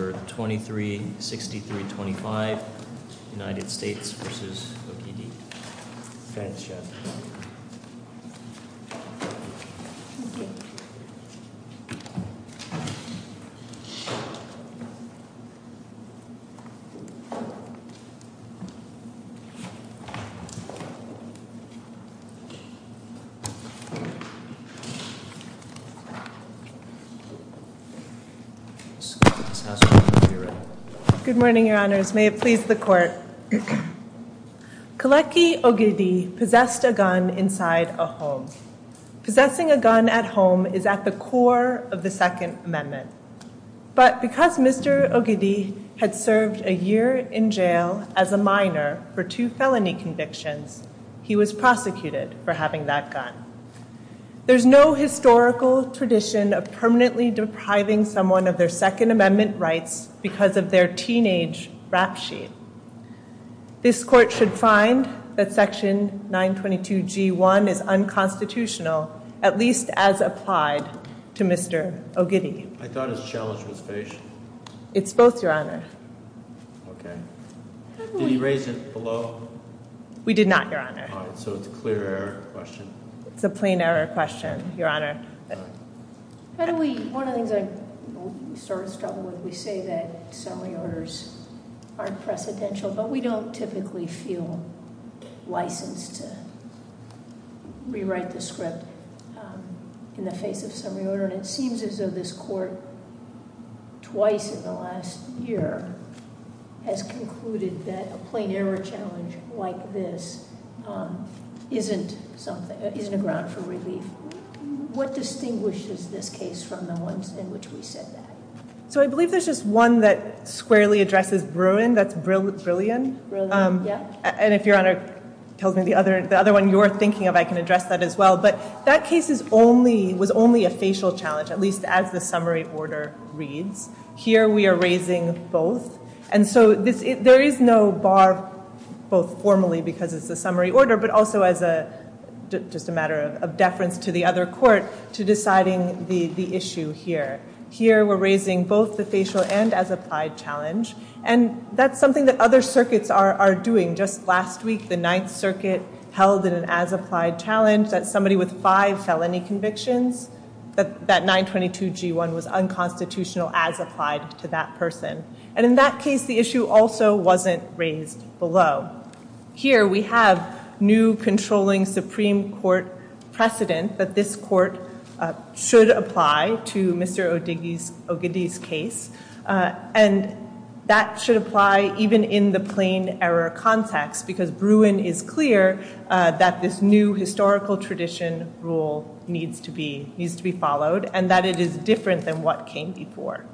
for 2363-25 United States vs. Ogidi. Good morning, Your Honors. May it please the Court. Kolecki Ogidi possessed a gun inside a home. Possessing a gun at home is at the core of the Second Amendment. But because Mr. Ogidi had served a year in jail as a minor for two felony convictions, he was prosecuted for having that gun. There's no historical tradition of permanently depriving someone of their Second Amendment rights because of their teenage rap sheet. This Court should find that Section 922G1 is unconstitutional, at least as applied to Mr. Ogidi. I thought his challenge was finished. It's both, Your Honor. Okay. Did he raise it below? We did not, Your Honor. All right. So it's a clear error question. It's a plain error question, Your Honor. All right. How do we... One of the things I started struggling with, we say that summary orders aren't precedential, but we don't typically feel licensed to rewrite the script in the face of summary order. And it seems as though this Court, twice in the last year, has concluded that a plain error challenge like this isn't something... isn't a ground for relief. What distinguishes this case from the ones in which we said that? So I believe there's just one that squarely addresses Bruin. That's Brillian. Brillian. Yeah. And if Your Honor tells me the other one you're thinking of, I can address that as well. But that case was only a facial challenge, at least as the summary order reads. Here we are raising both. And so there is no bar, both formally because it's a summary order, but also as just a matter of deference to the other court to deciding the issue here. Here we're raising both the facial and as-applied challenge. And that's something that other circuits are doing. Just last week, the Ninth Circuit held an as-applied challenge that somebody with five felony convictions, that 922 G1 was unconstitutional as applied to that person. And in that case, the issue also wasn't raised below. Here we have new controlling Supreme Court precedent that this court should apply to Mr. Ogedi's case. And that should apply even in the plain error context because Bruin is clear that this new historical tradition rule needs to be followed and that it is different than what came before.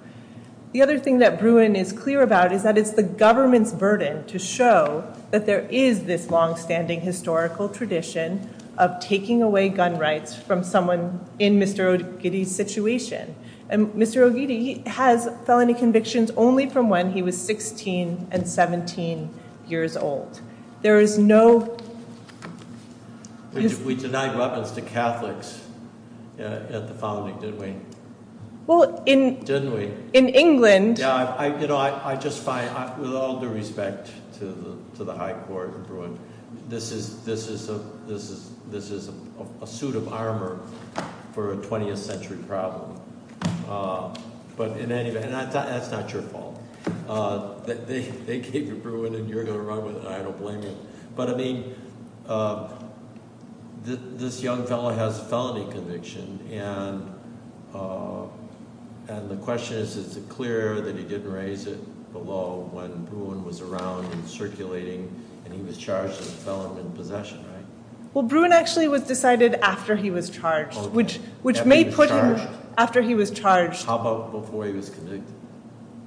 The other thing that Bruin is clear about is that it's the government's burden to show that there is this long-standing historical tradition of taking away gun rights from someone in Mr. Ogedi's situation. And Mr. Ogedi has felony convictions only from when he was 16 and 17 years old. There is no... In England. Yeah, I just find, with all due respect to the high court in Bruin, this is a suit of armor for a 20th century problem. But in any event, that's not your fault. They gave you Bruin and you're going to run with it and I don't blame you. But I mean, this young fellow has a felony conviction. And the question is, is it clear that he didn't raise it below when Bruin was around and circulating and he was charged with felony possession, right? Well, Bruin actually was decided after he was charged, which may put him... After he was charged. How about before he was convicted?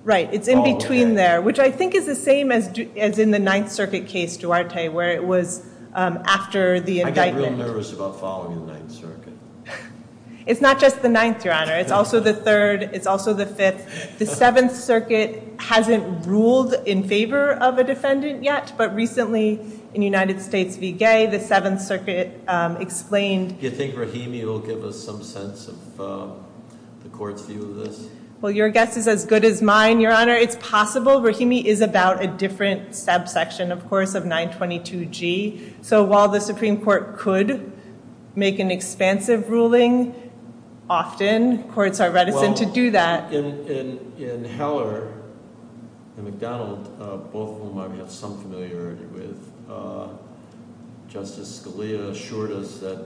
Right, it's in between there, which I think is the same as in the Ninth Circuit case, Duarte, where it was after the indictment. I get real nervous about following the Ninth Circuit. It's not just the Ninth, Your Honor. It's also the Third. It's also the Fifth. The Seventh Circuit hasn't ruled in favor of a defendant yet, but recently in United States v. Gay, the Seventh Circuit explained... Do you think Rahimi will give us some sense of the court's view of this? Well, your guess is as good as mine, Your Honor. It's possible Rahimi is about a different subsection, of course, of 922G. So while the Supreme Court could make an expansive ruling, often courts are reticent to do that. Well, in Heller and McDonald, both of whom I have some familiarity with, Justice Scalia assured us that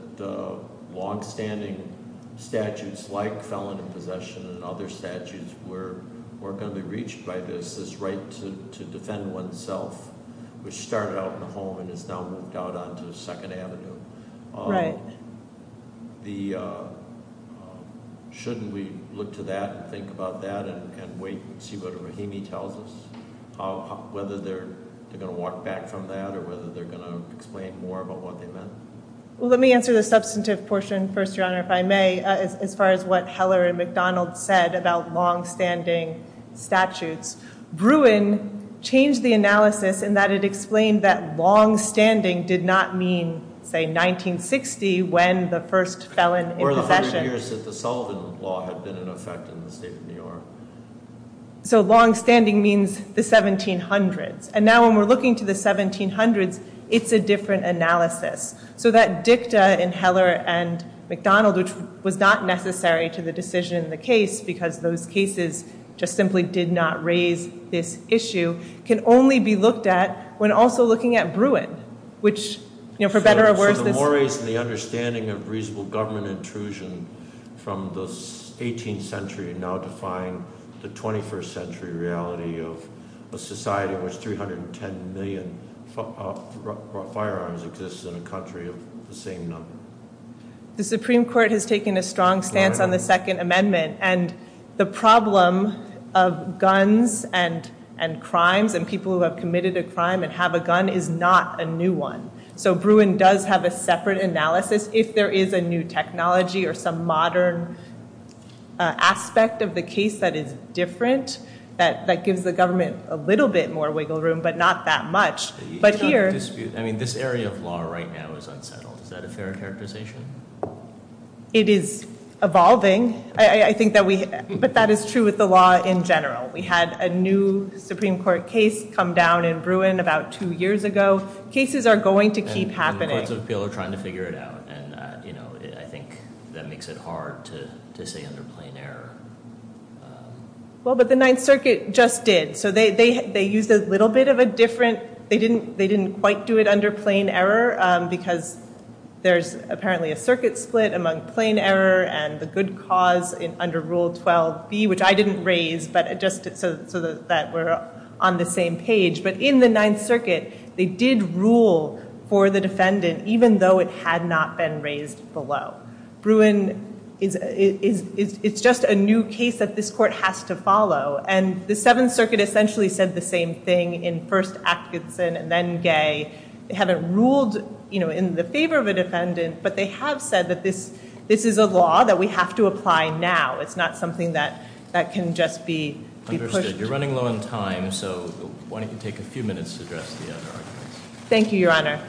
longstanding statutes like felony possession and other statutes were going to be reached by this, this right to defend oneself, which started out in the home and has now moved out onto Second Avenue. Shouldn't we look to that and think about that and wait and see what Rahimi tells us? Whether they're going to walk back from that or whether they're going to explain more about what they meant? Well, let me answer the substantive portion first, Your Honor, if I may, as far as what Heller and McDonald said about longstanding statutes. Bruin changed the analysis in that it explained that longstanding did not mean, say, 1960 when the first felon in possession... Or the hundred years that the Sullivan Law had been in effect in the state of New York. So longstanding means the 1700s. And now when we're looking to the 1700s, it's a different analysis. So that dicta in Heller and McDonald, which was not necessary to the decision in the case because those cases just simply did not raise this issue, can only be looked at when also looking at Bruin, which, you know, for better or worse... So the mores and the understanding of reasonable government intrusion from the 18th century now define the 21st century reality of a society in which 310 million firearms exist in a country of the same number. The Supreme Court has taken a strong stance on the Second Amendment and the problem of guns and crimes and people who have committed a crime and have a gun is not a new one. So Bruin does have a separate analysis if there is a new technology or some modern aspect of the case that is different. That gives the government a little bit more wiggle room, but not that much. But here... I mean, this area of law right now is unsettled. Is that a fair characterization? It is evolving. I think that we... But that is true with the law in general. We had a new Supreme Court case come down in Bruin about two years ago. Cases are going to keep happening. And the courts of appeal are trying to figure it out. And, you know, I think that makes it hard to say under plain error. Well, but the Ninth Circuit just did. So they used a little bit of a different... They didn't quite do it under plain error because there's apparently a circuit split among plain error and the good cause under Rule 12b, which I didn't raise, but just so that we're on the same page. But in the Ninth Circuit, they did rule for the defendant, even though it had not been raised below. Bruin is... It's just a new case that this court has to follow. And the Seventh Circuit essentially said the same thing in first Atkinson and then Gay. They haven't ruled, you know, in the favor of a defendant. But they have said that this is a law that we have to apply now. It's not something that can just be... Understood. You're running low on time. So why don't you take a few minutes to address the other arguments? Thank you, Your Honor.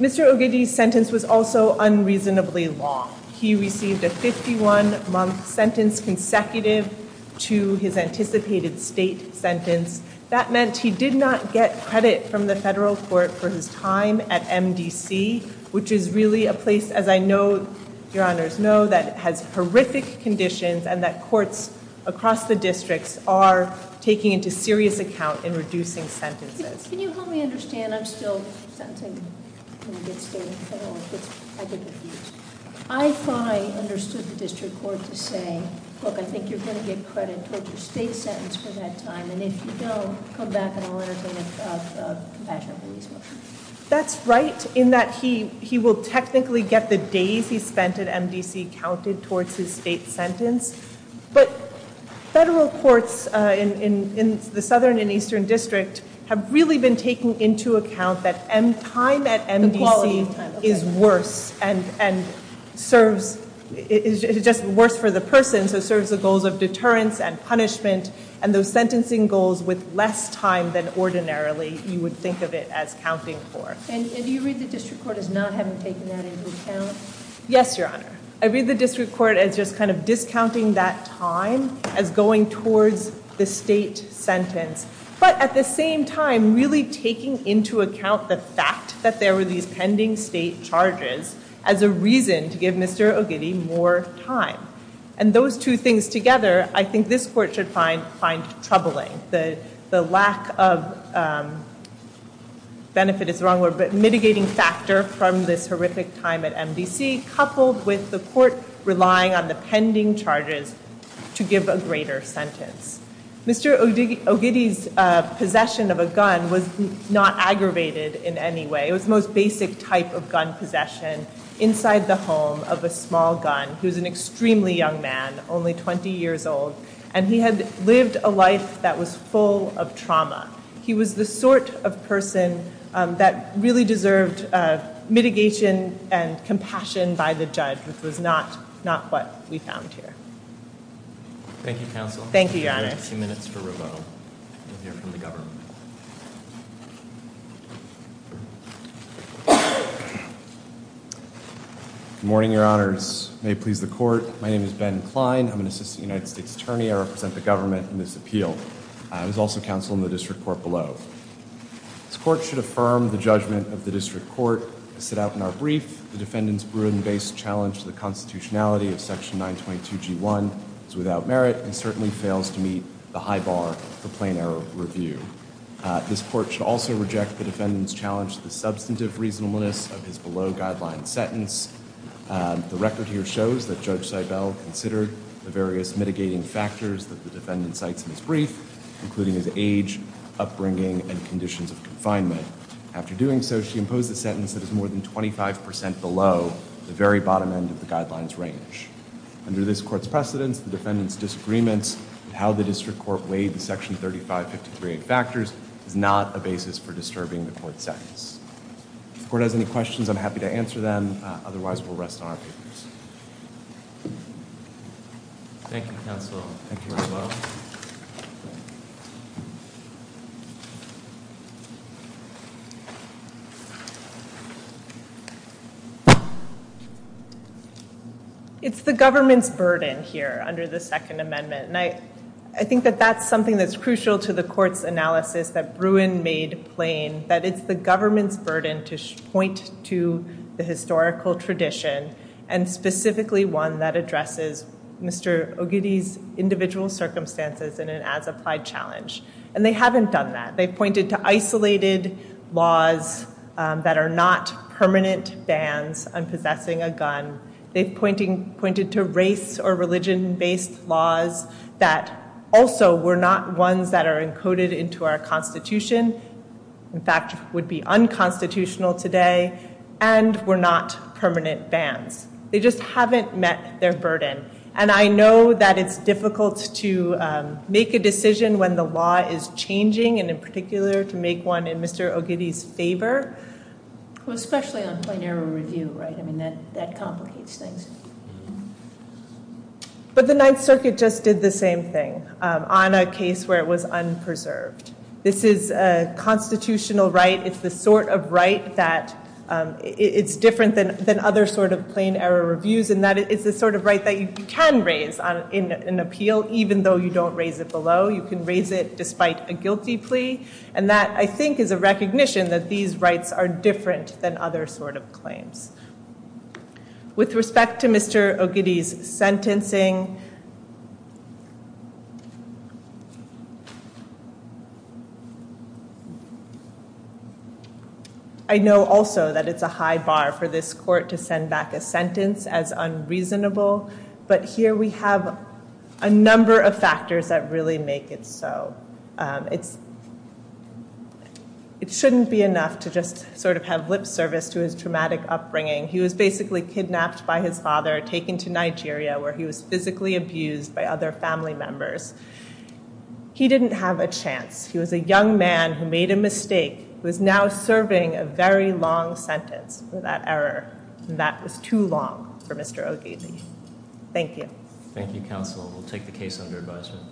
Mr. Ogedi's sentence was also unreasonably long. He received a 51-month sentence consecutive to his anticipated state sentence. That meant he did not get credit from the federal court for his time at MDC, which is really a place, as I know, Your Honors, know, that has horrific conditions and that courts across the districts are taking into serious account in reducing sentences. Can you help me understand? I'm still sentencing. I thought I understood the district court to say, look, I think you're going to get credit for your state sentence for that time. And if you don't, come back and I'll entertain a compassionate release motion. That's right. In that he will technically get the days he spent at MDC counted towards his state sentence. But federal courts in the Southern and Eastern District have really been taking into account that time at MDC is worse and serves, it's just worse for the person, so it serves the goals of deterrence and punishment. And those sentencing goals with less time than ordinarily you would think of it as counting for. And do you read the district court as not having taken that into account? Yes, Your Honor. I read the district court as just kind of discounting that time as going towards the state sentence, but at the same time, really taking into account the fact that there were these pending state charges as a reason to give Mr. Ogidi more time. And those two things together, I think this court should find troubling. The lack of, benefit is the wrong word, but mitigating factor from this horrific time at MDC, coupled with the court relying on the pending charges to give a greater sentence. Mr. Ogidi's possession of a gun was not aggravated in any way. It was the most basic type of gun possession inside the home of a small gun. He was an extremely young man, only 20 years old, and he had lived a life that was full of trauma. He was the sort of person that really deserved mitigation and compassion by the judge, which was not what we found here. Thank you, counsel. Thank you, Your Honor. We have a few minutes for rebuttal. Good morning, Your Honors. May it please the court. My name is Ben Klein. I'm an assistant United States attorney. I represent the government in this appeal. I was also counsel in the district court below. This court should affirm the judgment of the district court as set out in our brief. The defendant's Bruin-based challenge to the constitutionality of Section 922G1 is without merit and certainly fails to meet the high bar for plain error review. This court should also reject the defendant's challenge to the substantive reasonableness of his below-guideline sentence. The record here shows that Judge Seibel considered the various mitigating factors that the defendant cites in his brief, including his age, upbringing, and conditions of confinement. After doing so, she imposed a sentence that is more than 25% below the very bottom end of the guideline's range. Under this court's precedence, the defendant's disagreements and how the district court weighed the Section 3553A factors is not a basis for disturbing the court's sentence. If the court has any questions, I'm happy to answer them. Otherwise, we'll rest on our papers. Thank you, counsel. Thank you very much. It's the government's burden here under the Second Amendment, and I think that that's something that's crucial to the court's analysis that Bruin made plain that it's the government's burden to point to the historical tradition, and specifically one that addresses Mr. Ogidi's individual circumstances in an as-applied challenge. And they haven't done that. They've pointed to isolated laws that are not permanent bans on possessing a gun. They've pointed to race- or religion-based laws that also were not ones that are encoded into our Constitution, in fact, would be unconstitutional today, and were not permanent bans. They just haven't met their burden. And I know that it's difficult to make a decision when the law is changing, and in particular, to make one in Mr. Ogidi's favor. Well, especially on plenary review, right? I mean, that complicates things. But the Ninth Circuit just did the same thing on a case where it was unpreserved. This is a constitutional right. It's the sort of right that it's different than other sort of plain-error reviews, and that it's the sort of right that you can raise in an appeal, even though you don't raise it below. You can raise it despite a guilty plea. And that, I think, is a recognition that these rights are different than other sort of claims. With respect to Mr. Ogidi's sentencing, I know also that it's a high bar for this court to send back a sentence as unreasonable. But here we have a number of factors that really make it so. It shouldn't be enough to just sort of have lip service to his traumatic upbringing. He was basically kidnapped by his father, taken to Nigeria, where he was physically abused by other family members. He didn't have a chance. He was a young man who made a mistake, who is now serving a very long sentence for that error. And that was too long for Mr. Ogidi. Thank you. Thank you, counsel. We'll take the case under advisement.